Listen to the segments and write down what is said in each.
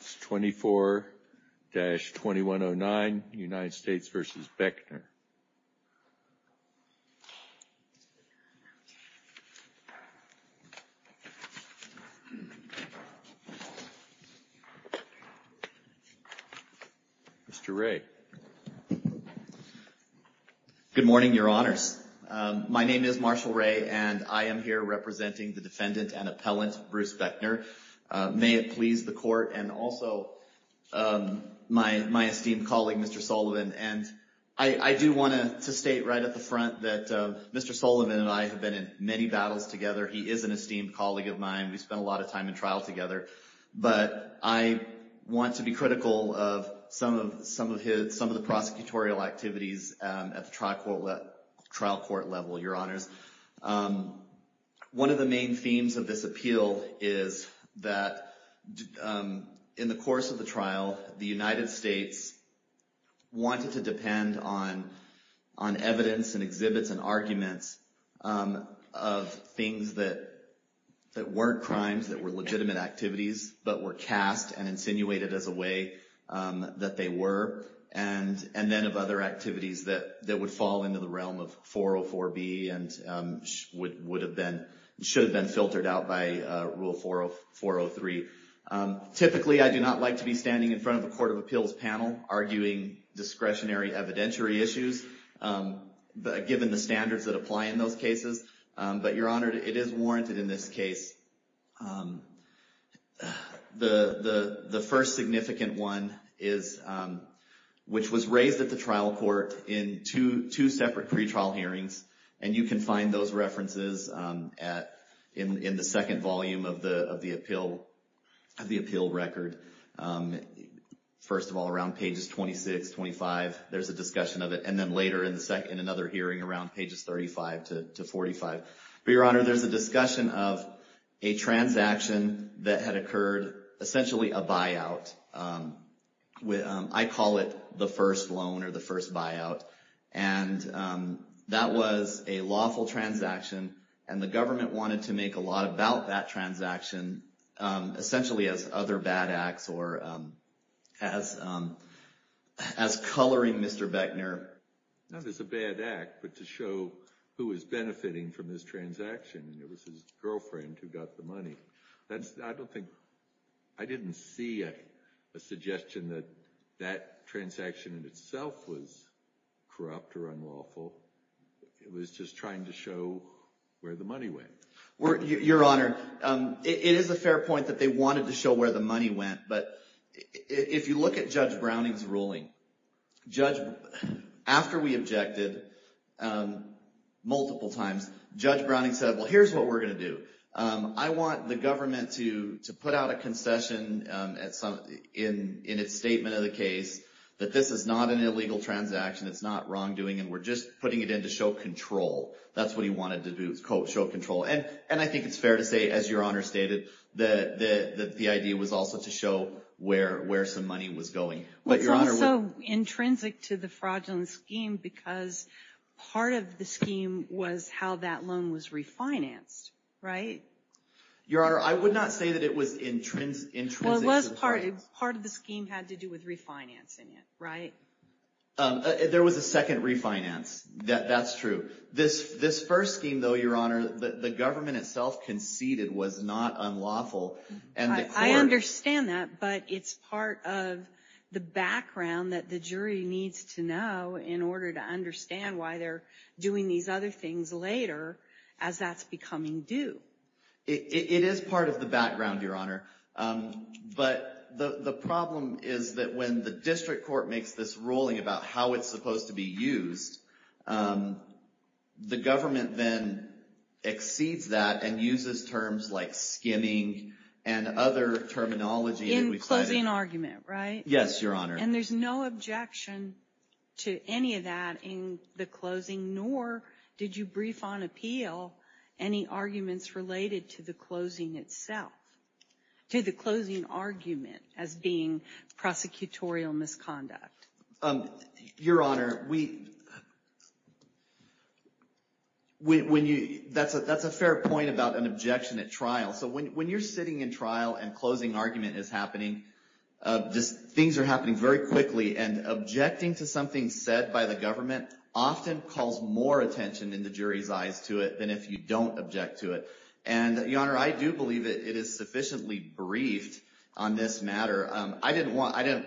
It's 24-2109 United States v. Beckner Mr. Wray Good morning, your honors. My name is Marshall Wray and I am here representing the defendant and appellant, Bruce Beckner. May it please the court and also my esteemed colleague, Mr. Sullivan. And I do want to state right at the front that Mr. Sullivan and I have been in many battles together. He is an esteemed colleague of mine. We spent a lot of time in trial together. But I want to be critical of some of the prosecutorial activities at the trial court level, your honors. One of the main themes of this appeal is that in the course of the trial, the United States wanted to depend on evidence and exhibits and arguments of things that weren't crimes, that were legitimate activities, but were cast and insinuated as a way that they were. And then of other activities that would fall into the realm of 404B and should have been filtered out by Rule 403. Typically, I do not like to be standing in front of a court of appeals panel arguing discretionary evidentiary issues, given the standards that apply in those cases. But your honor, it is warranted in this case. The first significant one is, which was raised at the trial court in two separate pretrial hearings. And you can find those references in the second volume of the appeal record. First of all, around pages 26, 25, there's a discussion of it. And then later in the second, another hearing around pages 35 to 45. But your honor, there's a discussion of a transaction that had occurred, essentially a buyout. I call it the first loan or the first buyout. And that was a lawful transaction. And the government wanted to make a law about that transaction, essentially as other bad acts or as coloring Mr. Beckner. Not as a bad act, but to show who was benefiting from this transaction. It was his girlfriend who got the money. I don't think I didn't see a suggestion that that transaction in itself was corrupt or unlawful. It was just trying to show where the money went. Your honor, it is a fair point that they wanted to show where the money went. But if you look at Judge Browning's ruling, after we objected multiple times, Judge Browning said, well, here's what we're going to do. I want the government to put out a concession in its statement of the case that this is not an illegal transaction. It's not wrongdoing. And we're just putting it in to show control. That's what he wanted to do, is show control. And I think it's fair to say, as your honor stated, that the idea was also to show where some money was going. It was also intrinsic to the fraudulent scheme because part of the scheme was how that loan was refinanced. Your honor, I would not say that it was intrinsic. Well, it was part of the scheme had to do with refinancing it. Right? There was a second refinance. That's true. This first scheme, though, your honor, the government itself conceded was not unlawful. I understand that. But it's part of the background that the jury needs to know in order to understand why they're doing these other things later as that's becoming due. It is part of the background, your honor. But the problem is that when the district court makes this ruling about how it's supposed to be used, the government then exceeds that and uses terms like skimming and other terminology. In closing argument, right? Yes, your honor. And there's no objection to any of that in the closing, nor did you brief on appeal any arguments related to the closing itself, to the closing argument as being prosecutorial misconduct. Your honor, that's a fair point about an objection at trial. So when you're sitting in trial and closing argument is happening, things are happening very quickly. And objecting to something said by the government often calls more attention in the jury's eyes to it than if you don't object to it. And, your honor, I do believe it is sufficiently briefed on this matter. I didn't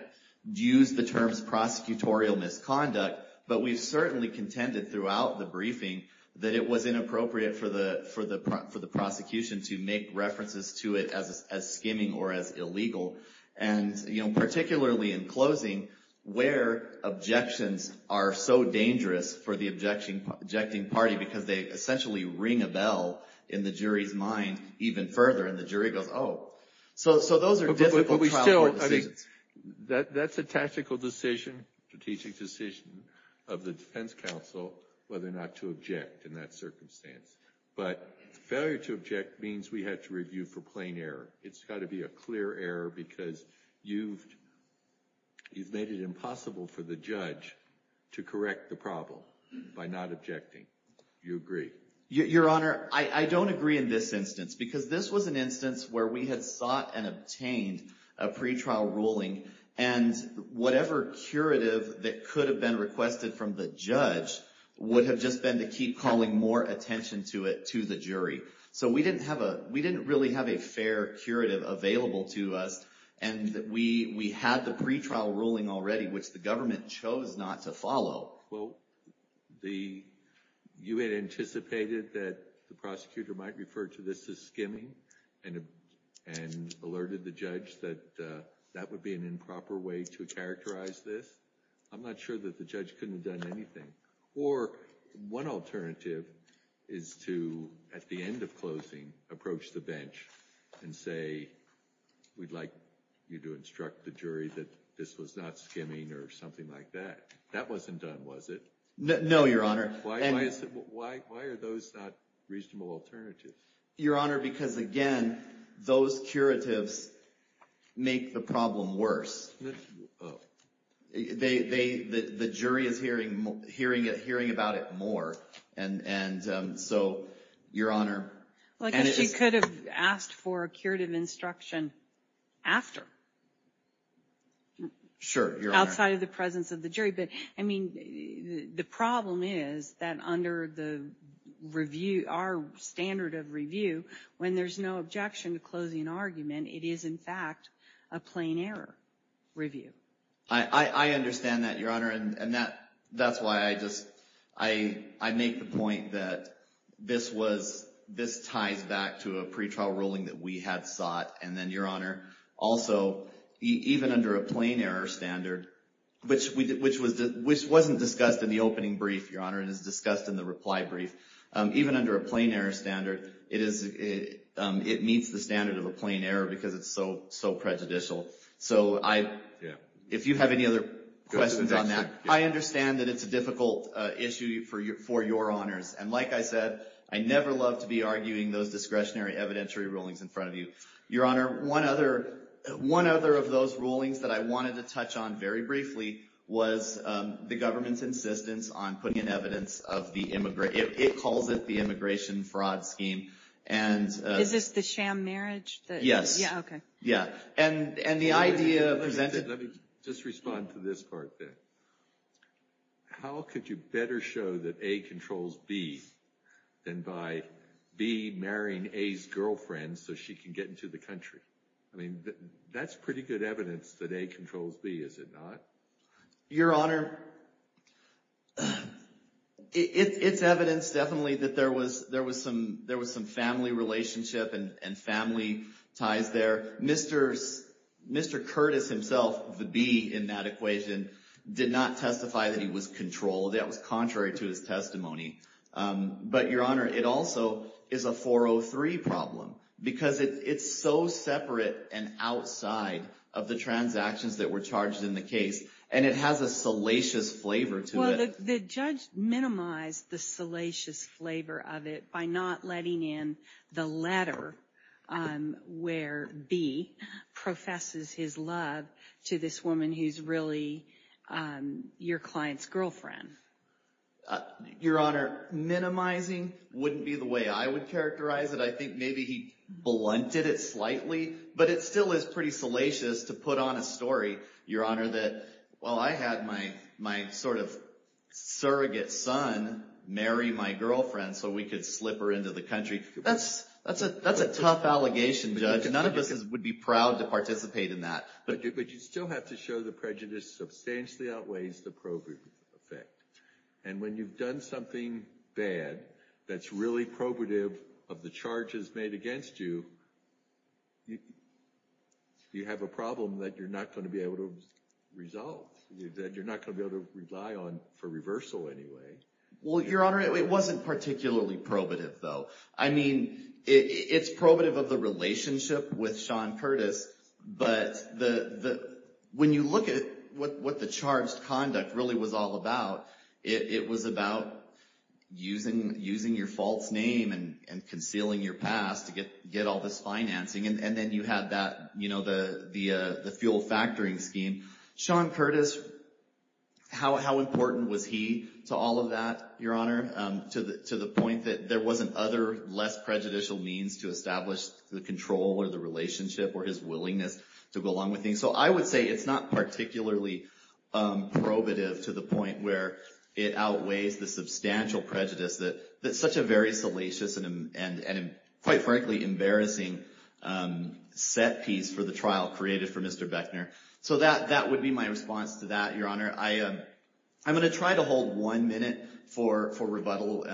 use the terms prosecutorial misconduct, but we've certainly contended throughout the briefing that it was inappropriate for the prosecution to make references to it as skimming or as illegal. And, you know, particularly in closing where objections are so dangerous for the objecting party because they essentially ring a bell in the jury's mind even further and the jury goes, oh. So those are difficult trial court decisions. That's a tactical decision, strategic decision of the defense counsel whether or not to object in that circumstance. But failure to object means we have to review for plain error. It's got to be a clear error because you've made it impossible for the judge to correct the problem by not objecting. Do you agree? Your honor, I don't agree in this instance because this was an instance where we had sought and obtained a pretrial ruling. And whatever curative that could have been requested from the judge would have just been to keep calling more attention to it to the jury. So we didn't have a we didn't really have a fair curative available to us. And we had the pretrial ruling already, which the government chose not to follow. Well, you had anticipated that the prosecutor might refer to this as skimming and alerted the judge that that would be an improper way to characterize this. I'm not sure that the judge couldn't have done anything. Or one alternative is to, at the end of closing, approach the bench and say, we'd like you to instruct the jury that this was not skimming or something like that. That wasn't done, was it? No, your honor. Why are those not reasonable alternatives? Your honor, because again, those curatives make the problem worse. The jury is hearing about it more. And so, your honor. Well, I guess you could have asked for a curative instruction after. Sure, your honor. Outside of the presence of the jury. But I mean, the problem is that under the review, our standard of review, when there's no objection to closing an argument, it is in fact a plain error review. I understand that, your honor. And that that's why I just I make the point that this was this ties back to a pretrial ruling that we had sought. And then, your honor, also, even under a plain error standard, which wasn't discussed in the opening brief, your honor, and is discussed in the reply brief. Even under a plain error standard, it meets the standard of a plain error because it's so prejudicial. So if you have any other questions on that, I understand that it's a difficult issue for your honors. And like I said, I never love to be arguing those discretionary evidentiary rulings in front of you. Your honor, one other one other of those rulings that I wanted to touch on very briefly was the government's insistence on putting in evidence of the immigration. It calls it the immigration fraud scheme. And is this the sham marriage? Yes. Yeah. OK. Yeah. And the idea presented. Let me just respond to this part. How could you better show that a controls B than by B marrying A's girlfriend so she can get into the country? I mean, that's pretty good evidence that A controls B, is it not? Your honor, it's evidence definitely that there was there was some there was some family relationship and family ties there. Mr. Mr. Curtis himself, the B in that equation did not testify that he was controlled. That was contrary to his testimony. But your honor, it also is a 403 problem because it's so separate and outside of the transactions that were charged in the case. And it has a salacious flavor to it. The judge minimized the salacious flavor of it by not letting in the letter where B professes his love to this woman who's really your client's girlfriend. Your honor, minimizing wouldn't be the way I would characterize it. I think maybe he blunted it slightly, but it still is pretty salacious to put on a story. Your honor, that while I had my my sort of surrogate son marry my girlfriend so we could slip her into the country. That's that's a that's a tough allegation, judge. None of us would be proud to participate in that. But you still have to show the prejudice substantially outweighs the probing effect. And when you've done something bad, that's really probative of the charges made against you. You have a problem that you're not going to be able to resolve that you're not going to be able to rely on for reversal anyway. Well, your honor, it wasn't particularly probative, though. I mean, it's probative of the relationship with Sean Curtis. But the when you look at what the charged conduct really was all about, it was about using using your false name and concealing your past to get get all this financing. And then you had that, you know, the the the fuel factoring scheme. Sean Curtis, how important was he to all of that? Your honor, to the to the point that there wasn't other less prejudicial means to establish the control or the relationship or his willingness to go along with things. So I would say it's not particularly probative to the point where it outweighs the substantial prejudice that that's such a very salacious and quite frankly, embarrassing set piece for the trial created for Mr. Beckner. So that that would be my response to that. Your honor, I am I'm going to try to hold one minute for for rebuttal.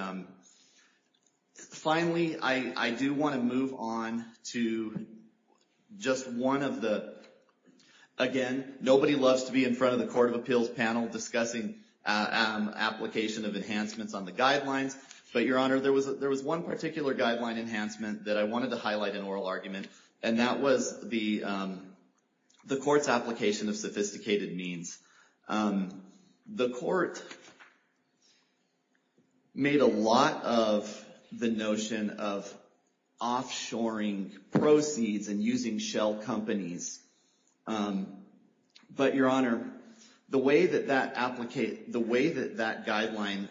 Finally, I do want to move on to just one of the again, nobody loves to be in front of the Court of Appeals panel discussing application of enhancements on the guidelines. But your honor, there was there was one particular guideline enhancement that I wanted to highlight an oral argument, and that was the the court's application of sophisticated means. The court made a lot of the notion of offshoring proceeds and using shell companies. But your honor, the way that that application, the way that that guideline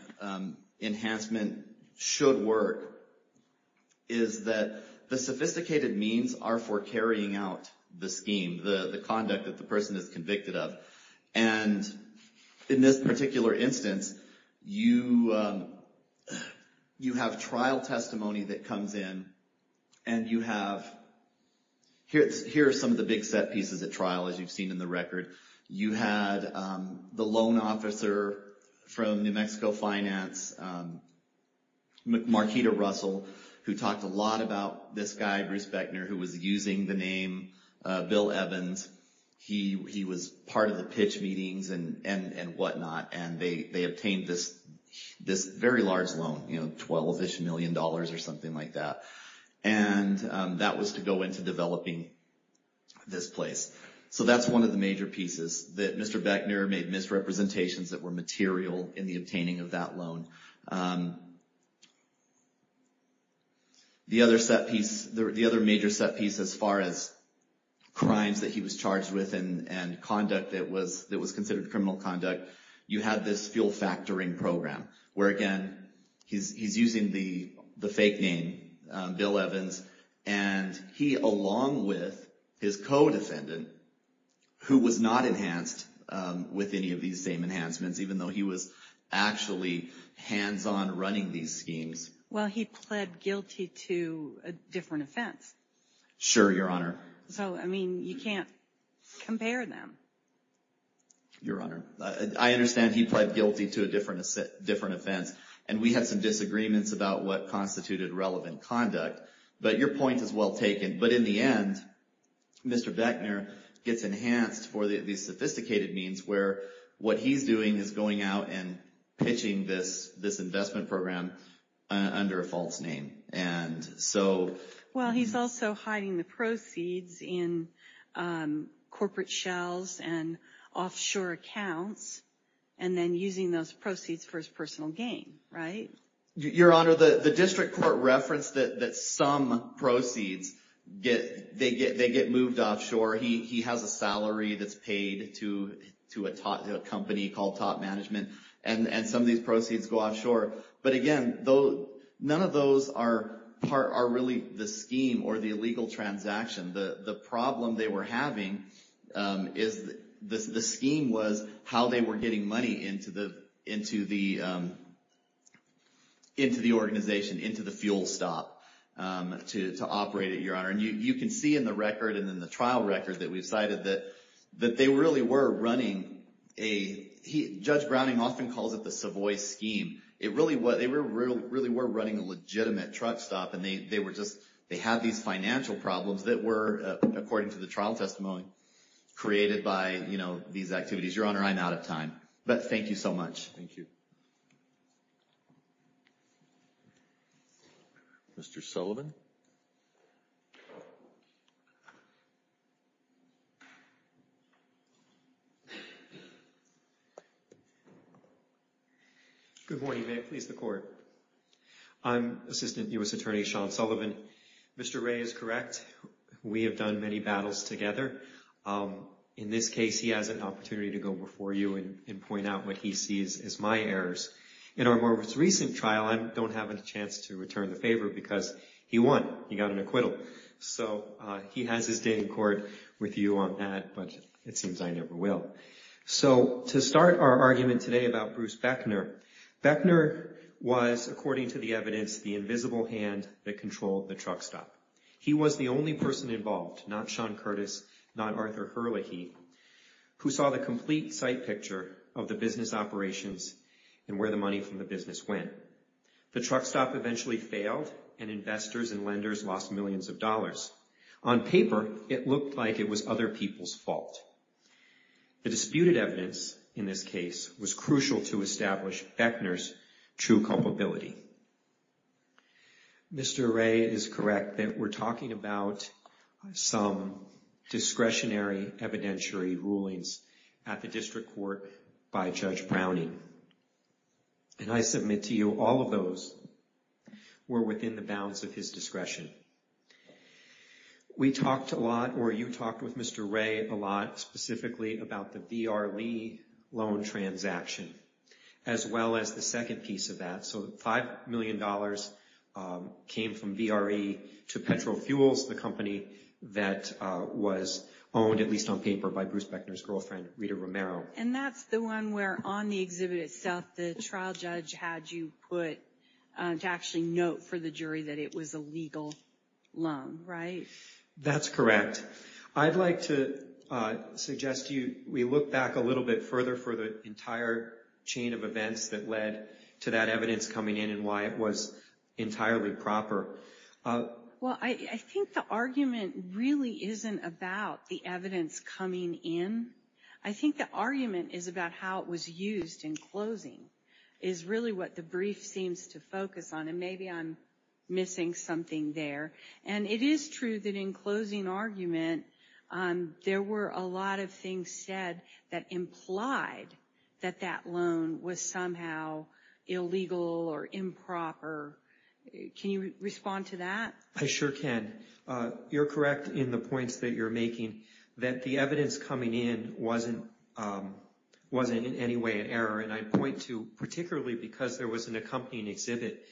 enhancement should work is that the sophisticated means are for carrying out the scheme, the conduct that the person is convicted of. And in this particular instance, you you have trial testimony that comes in and you have here. Here are some of the big set pieces at trial. As you've seen in the record, you had the loan officer from New Mexico Finance, Markita Russell, who talked a lot about this guy, Bruce Beckner, who was using the name Bill Evans. He was part of the pitch meetings and whatnot, and they obtained this very large loan, you know, $12-ish million or something like that. And that was to go into developing this place. So that's one of the major pieces that Mr. Beckner made misrepresentations that were material in the obtaining of that loan. The other set piece, the other major set piece as far as crimes that he was charged with and conduct that was considered criminal conduct, you had this fuel factoring program where, again, he's using the fake name Bill Evans. And he, along with his co-defendant, who was not enhanced with any of these same enhancements, even though he was actually hands-on running these schemes. Well, he pled guilty to a different offense. Sure, Your Honor. So, I mean, you can't compare them. Your Honor, I understand he pled guilty to a different offense. And we had some disagreements about what constituted relevant conduct. But your point is well taken. But in the end, Mr. Beckner gets enhanced for these sophisticated means where what he's doing is going out and pitching this investment program under a false name. Well, he's also hiding the proceeds in corporate shelves and offshore accounts and then using those proceeds for his personal gain, right? Your Honor, the district court referenced that some proceeds, they get moved offshore. He has a salary that's paid to a company called Top Management. And some of these proceeds go offshore. But, again, none of those are really the scheme or the illegal transaction. The problem they were having is the scheme was how they were getting money into the organization, into the fuel stop to operate it, Your Honor. And you can see in the record and in the trial record that we've cited that they really were running a – Judge Browning often calls it the Savoy scheme. It really was – they really were running a legitimate truck stop. And they were just – they had these financial problems that were, according to the trial testimony, created by, you know, these activities. Your Honor, I'm out of time. But thank you so much. Thank you. Mr. Sullivan? Mr. Sullivan? Good morning. May it please the Court. I'm Assistant U.S. Attorney Sean Sullivan. Mr. Wray is correct. We have done many battles together. In this case, he has an opportunity to go before you and point out what he sees as my errors. In our most recent trial, I don't have a chance to return the favor because he won. He got an acquittal. So he has his day in court with you on that. But it seems I never will. So to start our argument today about Bruce Beckner, Beckner was, according to the evidence, the invisible hand that controlled the truck stop. He was the only person involved, not Sean Curtis, not Arthur Herlihy, who saw the complete sight picture of the business operations and where the money from the business went. The truck stop eventually failed, and investors and lenders lost millions of dollars. On paper, it looked like it was other people's fault. The disputed evidence in this case was crucial to establish Beckner's true culpability. Mr. Wray is correct that we're talking about some discretionary evidentiary rulings at the district court by Judge Browning. And I submit to you, all of those were within the bounds of his discretion. We talked a lot, or you talked with Mr. Wray a lot, specifically about the V.R. Lee loan transaction, as well as the second piece of that. So $5 million came from V.R. Lee to Petro Fuels, the company that was owned, at least on paper, by Bruce Beckner's girlfriend, Rita Romero. And that's the one where, on the exhibit itself, the trial judge had you put to actually note for the jury that it was a legal loan, right? That's correct. I'd like to suggest we look back a little bit further for the entire chain of events that led to that evidence coming in and why it was entirely proper. Well, I think the argument really isn't about the evidence coming in. I think the argument is about how it was used in closing, is really what the brief seems to focus on. And maybe I'm missing something there. And it is true that in closing argument, there were a lot of things said that implied that that loan was somehow illegal or improper. Can you respond to that? I sure can. You're correct in the points that you're making that the evidence coming in wasn't in any way an error. And I point to, particularly because there was an accompanying exhibit,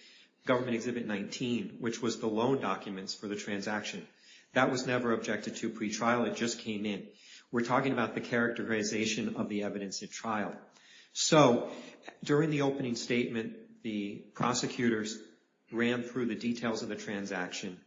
Government Exhibit 19, which was the loan documents for the transaction. That was never objected to pretrial. It just came in. We're talking about the characterization of the evidence at trial. So, during the opening statement, the prosecutors ran through the details of the transaction.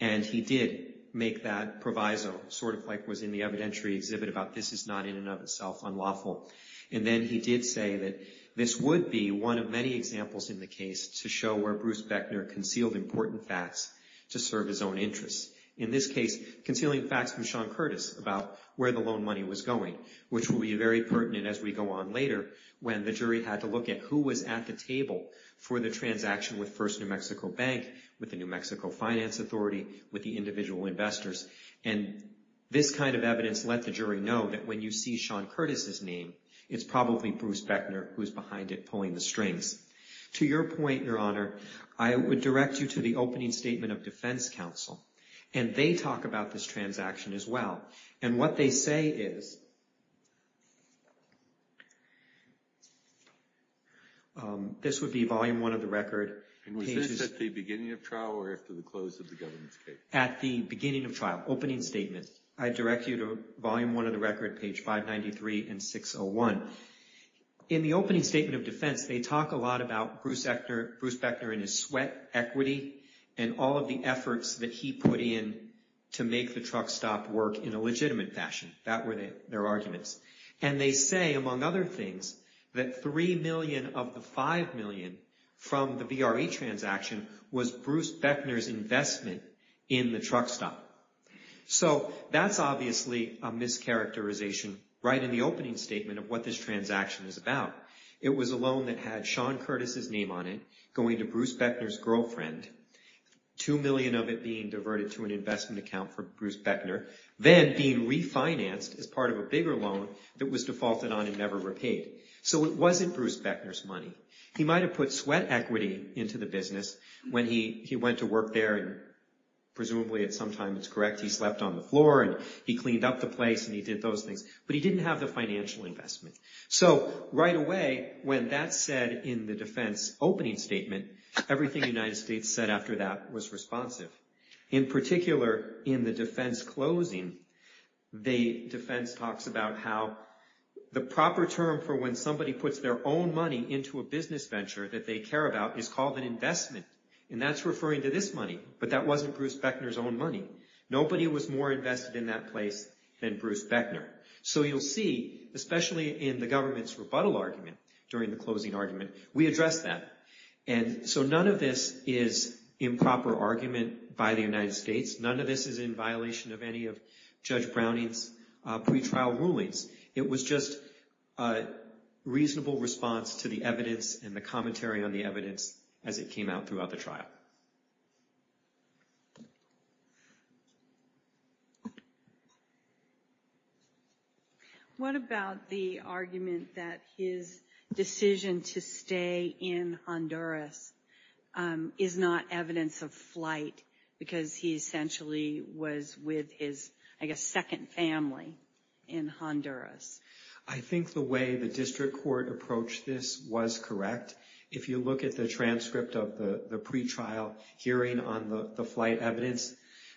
And he did make that proviso, sort of like was in the evidentiary exhibit about this is not, in and of itself, unlawful. And then he did say that this would be one of many examples in the case to show where Bruce Bechner concealed important facts to serve his own interests. In this case, concealing facts from Sean Curtis about where the loan money was going, which will be very pertinent as we go on later, when the jury had to look at who was at the table for the transaction with First New Mexico Bank, with the New Mexico Finance Authority, with the individual investors. And this kind of evidence let the jury know that when you see Sean Curtis's name, it's probably Bruce Bechner who's behind it pulling the strings. To your point, Your Honor, I would direct you to the opening statement of Defense Counsel. And they talk about this transaction as well. And what they say is, this would be volume one of the record. And was this at the beginning of trial or after the close of the government's case? At the beginning of trial, opening statement. I direct you to volume one of the record, page 593 and 601. In the opening statement of defense, they talk a lot about Bruce Bechner and his sweat, equity, and all of the efforts that he put in to make the truck stop work in a legitimate fashion. That were their arguments. And they say, among other things, that $3 million of the $5 million from the VRE transaction was Bruce Bechner's investment in the truck stop. So that's obviously a mischaracterization right in the opening statement of what this transaction is about. It was a loan that had Sean Curtis's name on it, going to Bruce Bechner's girlfriend. $2 million of it being diverted to an investment account for Bruce Bechner. Then being refinanced as part of a bigger loan that was defaulted on and never repaid. So it wasn't Bruce Bechner's money. He might have put sweat equity into the business when he went to work there and presumably at some time, it's correct, he slept on the floor and he cleaned up the place and he did those things. But he didn't have the financial investment. So right away, when that said in the defense opening statement, everything the United States said after that was responsive. In particular, in the defense closing, the defense talks about how the proper term for when somebody puts their own money into a business venture that they care about is called an investment. And that's referring to this money. But that wasn't Bruce Bechner's own money. Nobody was more invested in that place than Bruce Bechner. So you'll see, especially in the government's rebuttal argument during the closing argument, we address that. And so none of this is improper argument by the United States. None of this is in violation of any of Judge Browning's pretrial rulings. It was just a reasonable response to the evidence and the commentary on the evidence as it came out throughout the trial. What about the argument that his decision to stay in Honduras is not evidence of flight because he essentially was with his, I guess, second family in Honduras? I think the way the district court approached this was correct. If you look at the transcript of the pretrial hearing on the flight evidence,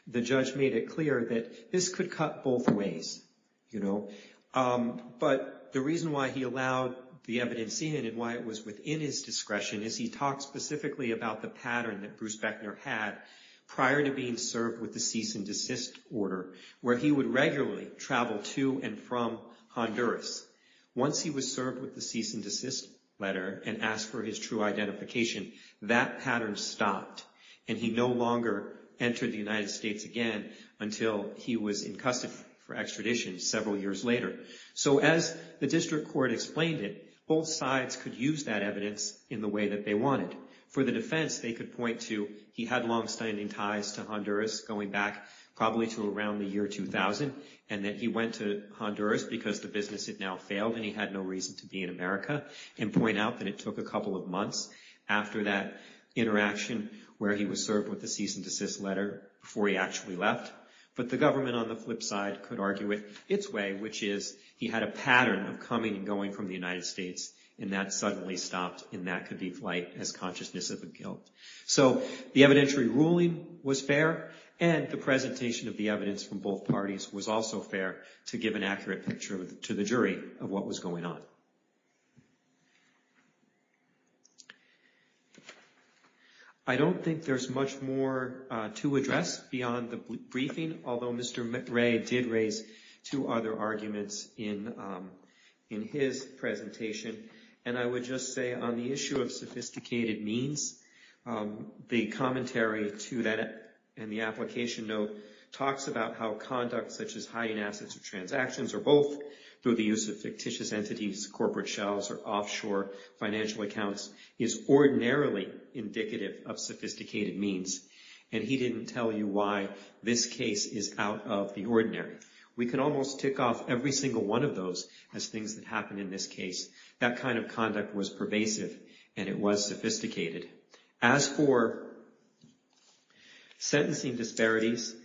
the judge made it clear that this could cut both ways, you know. But the reason why he allowed the evidence in and why it was within his discretion is he talked specifically about the pattern that Bruce Bechner had prior to being served with the cease and desist order, where he would regularly travel to and from Honduras. Once he was served with the cease and desist letter and asked for his true identification, that pattern stopped. And he no longer entered the United States again until he was in custody for extradition several years later. So as the district court explained it, both sides could use that evidence in the way that they wanted. For the defense, they could point to he had longstanding ties to Honduras going back probably to around the year 2000, and that he went to Honduras because the business had now failed and he had no reason to be in America, and point out that it took a couple of months after that interaction where he was served with the cease and desist letter before he actually left. But the government on the flip side could argue it its way, which is he had a pattern of coming and going from the United States, and that suddenly stopped, and that could be flagged as consciousness of a guilt. So the evidentiary ruling was fair, and the presentation of the evidence from both parties was also fair to give an accurate picture to the jury of what was going on. I don't think there's much more to address beyond the briefing, although Mr. Ray did raise two other arguments in his presentation. And I would just say on the issue of sophisticated means, the commentary to that and the application note talks about how conduct such as offshore financial accounts is ordinarily indicative of sophisticated means, and he didn't tell you why this case is out of the ordinary. We can almost tick off every single one of those as things that happened in this case. That kind of conduct was pervasive, and it was sophisticated. As for sentencing disparities,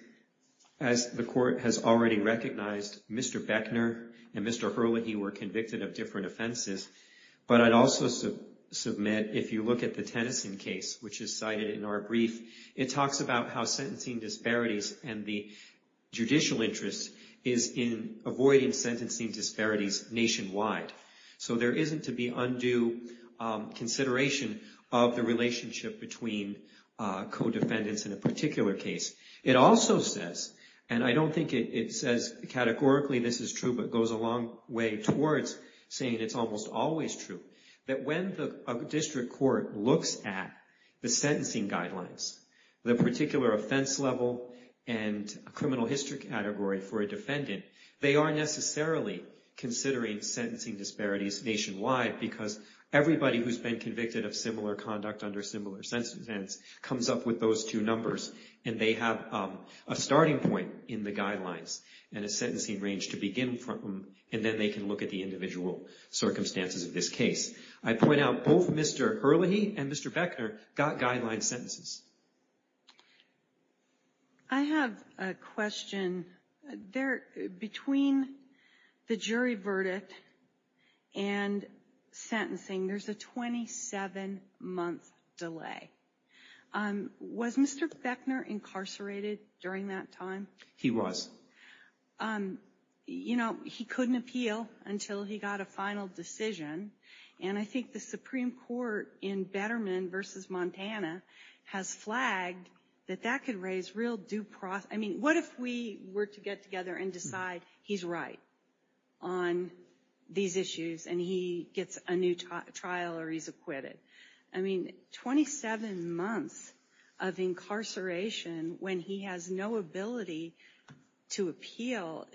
as the court has already recognized, Mr. Beckner and Mr. Hurley, he were convicted of different offenses. But I'd also submit if you look at the Tennyson case, which is cited in our brief, it talks about how sentencing disparities and the judicial interest is in avoiding sentencing disparities nationwide. So there isn't to be undue consideration of the relationship between co-defendants in a particular case. It also says, and I don't think it says categorically this is true, but goes a long way towards saying it's almost always true, that when the district court looks at the sentencing guidelines, the particular offense level and criminal history category for a defendant, they aren't necessarily considering sentencing disparities nationwide, because everybody who's been convicted of similar conduct under similar sentences comes up with those two numbers, and they have a starting point in the guidelines and a sentencing range to begin from, and then they can look at the individual circumstances of this case. I point out both Mr. Hurley and Mr. Beckner got guideline sentences. I have a question. Between the jury verdict and sentencing, there's a 27-month delay. Was Mr. Beckner incarcerated during that time? He was. You know, he couldn't appeal until he got a final decision, and I think the Supreme Court in Betterman v. Montana has flagged that that could raise real due process. I mean, what if we were to get together and decide he's right on these issues and he gets a new trial or he's acquitted? I mean, 27 months of incarceration when he has no ability to appeal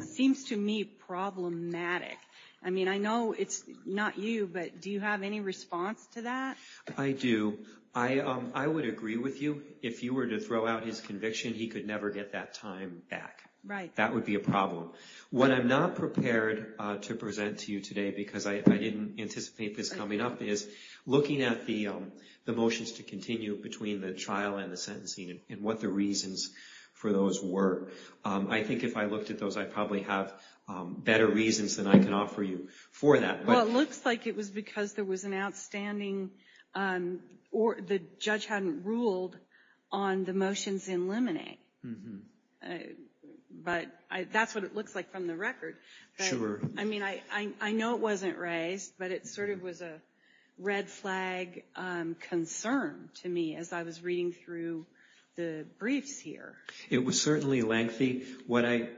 seems to me problematic. I mean, I know it's not you, but do you have any response to that? I do. I would agree with you. If you were to throw out his conviction, he could never get that time back. Right. That would be a problem. What I'm not prepared to present to you today, because I didn't anticipate this coming up, is looking at the motions to continue between the trial and the sentencing and what the reasons for those were. I think if I looked at those, I probably have better reasons than I can offer you for that. Well, it looks like it was because there was an outstanding or the judge hadn't ruled on the motions in limine. But that's what it looks like from the record. Sure. I mean, I know it wasn't raised, but it sort of was a red flag concern to me as I was reading through the briefs here. It was certainly lengthy. What I'd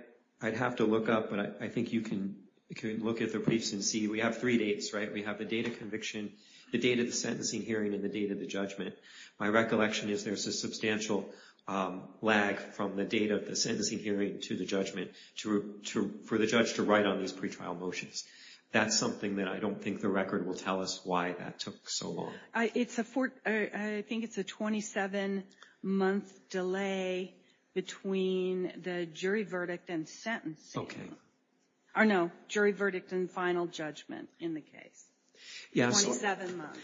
have to look up, but I think you can look at the briefs and see. We have three dates, right? We have the date of conviction, the date of the sentencing hearing, and the date of the judgment. My recollection is there's a substantial lag from the date of the sentencing hearing to the judgment for the judge to write on these pretrial motions. That's something that I don't think the record will tell us why that took so long. I think it's a 27-month delay between the jury verdict and sentencing. No, jury verdict and final judgment in the case. Yes. 27 months.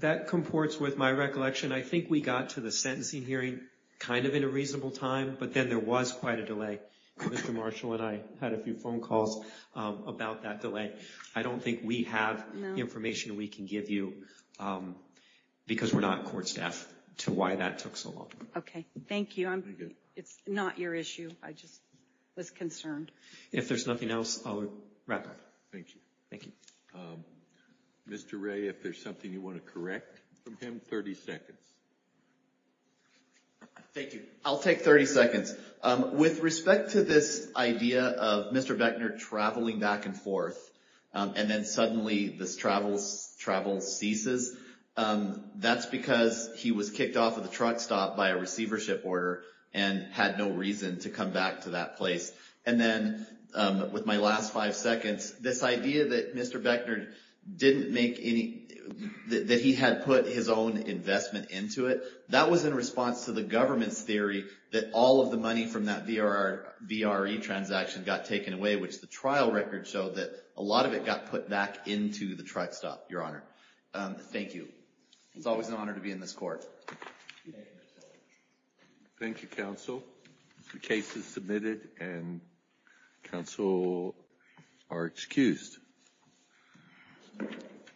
That comports with my recollection. I think we got to the sentencing hearing kind of in a reasonable time, but then there was quite a delay. Mr. Marshall and I had a few phone calls about that delay. I don't think we have information we can give you because we're not court staff to why that took so long. Okay. Thank you. It's not your issue. I just was concerned. If there's nothing else, I'll wrap up. Thank you. Thank you. Mr. Ray, if there's something you want to correct from him, 30 seconds. Thank you. I'll take 30 seconds. With respect to this idea of Mr. Beckner traveling back and forth and then suddenly this travel ceases, that's because he was kicked off of the truck stop by a receivership order and had no reason to come back to that place. And then with my last five seconds, this idea that Mr. Beckner didn't make any—that he had put his own investment into it, that was in response to the government's theory that all of the money from that VRE transaction got taken away, which the trial record showed that a lot of it got put back into the truck stop, Your Honor. Thank you. It's always an honor to be in this court. Thank you, counsel. The case is submitted and counsel are excused.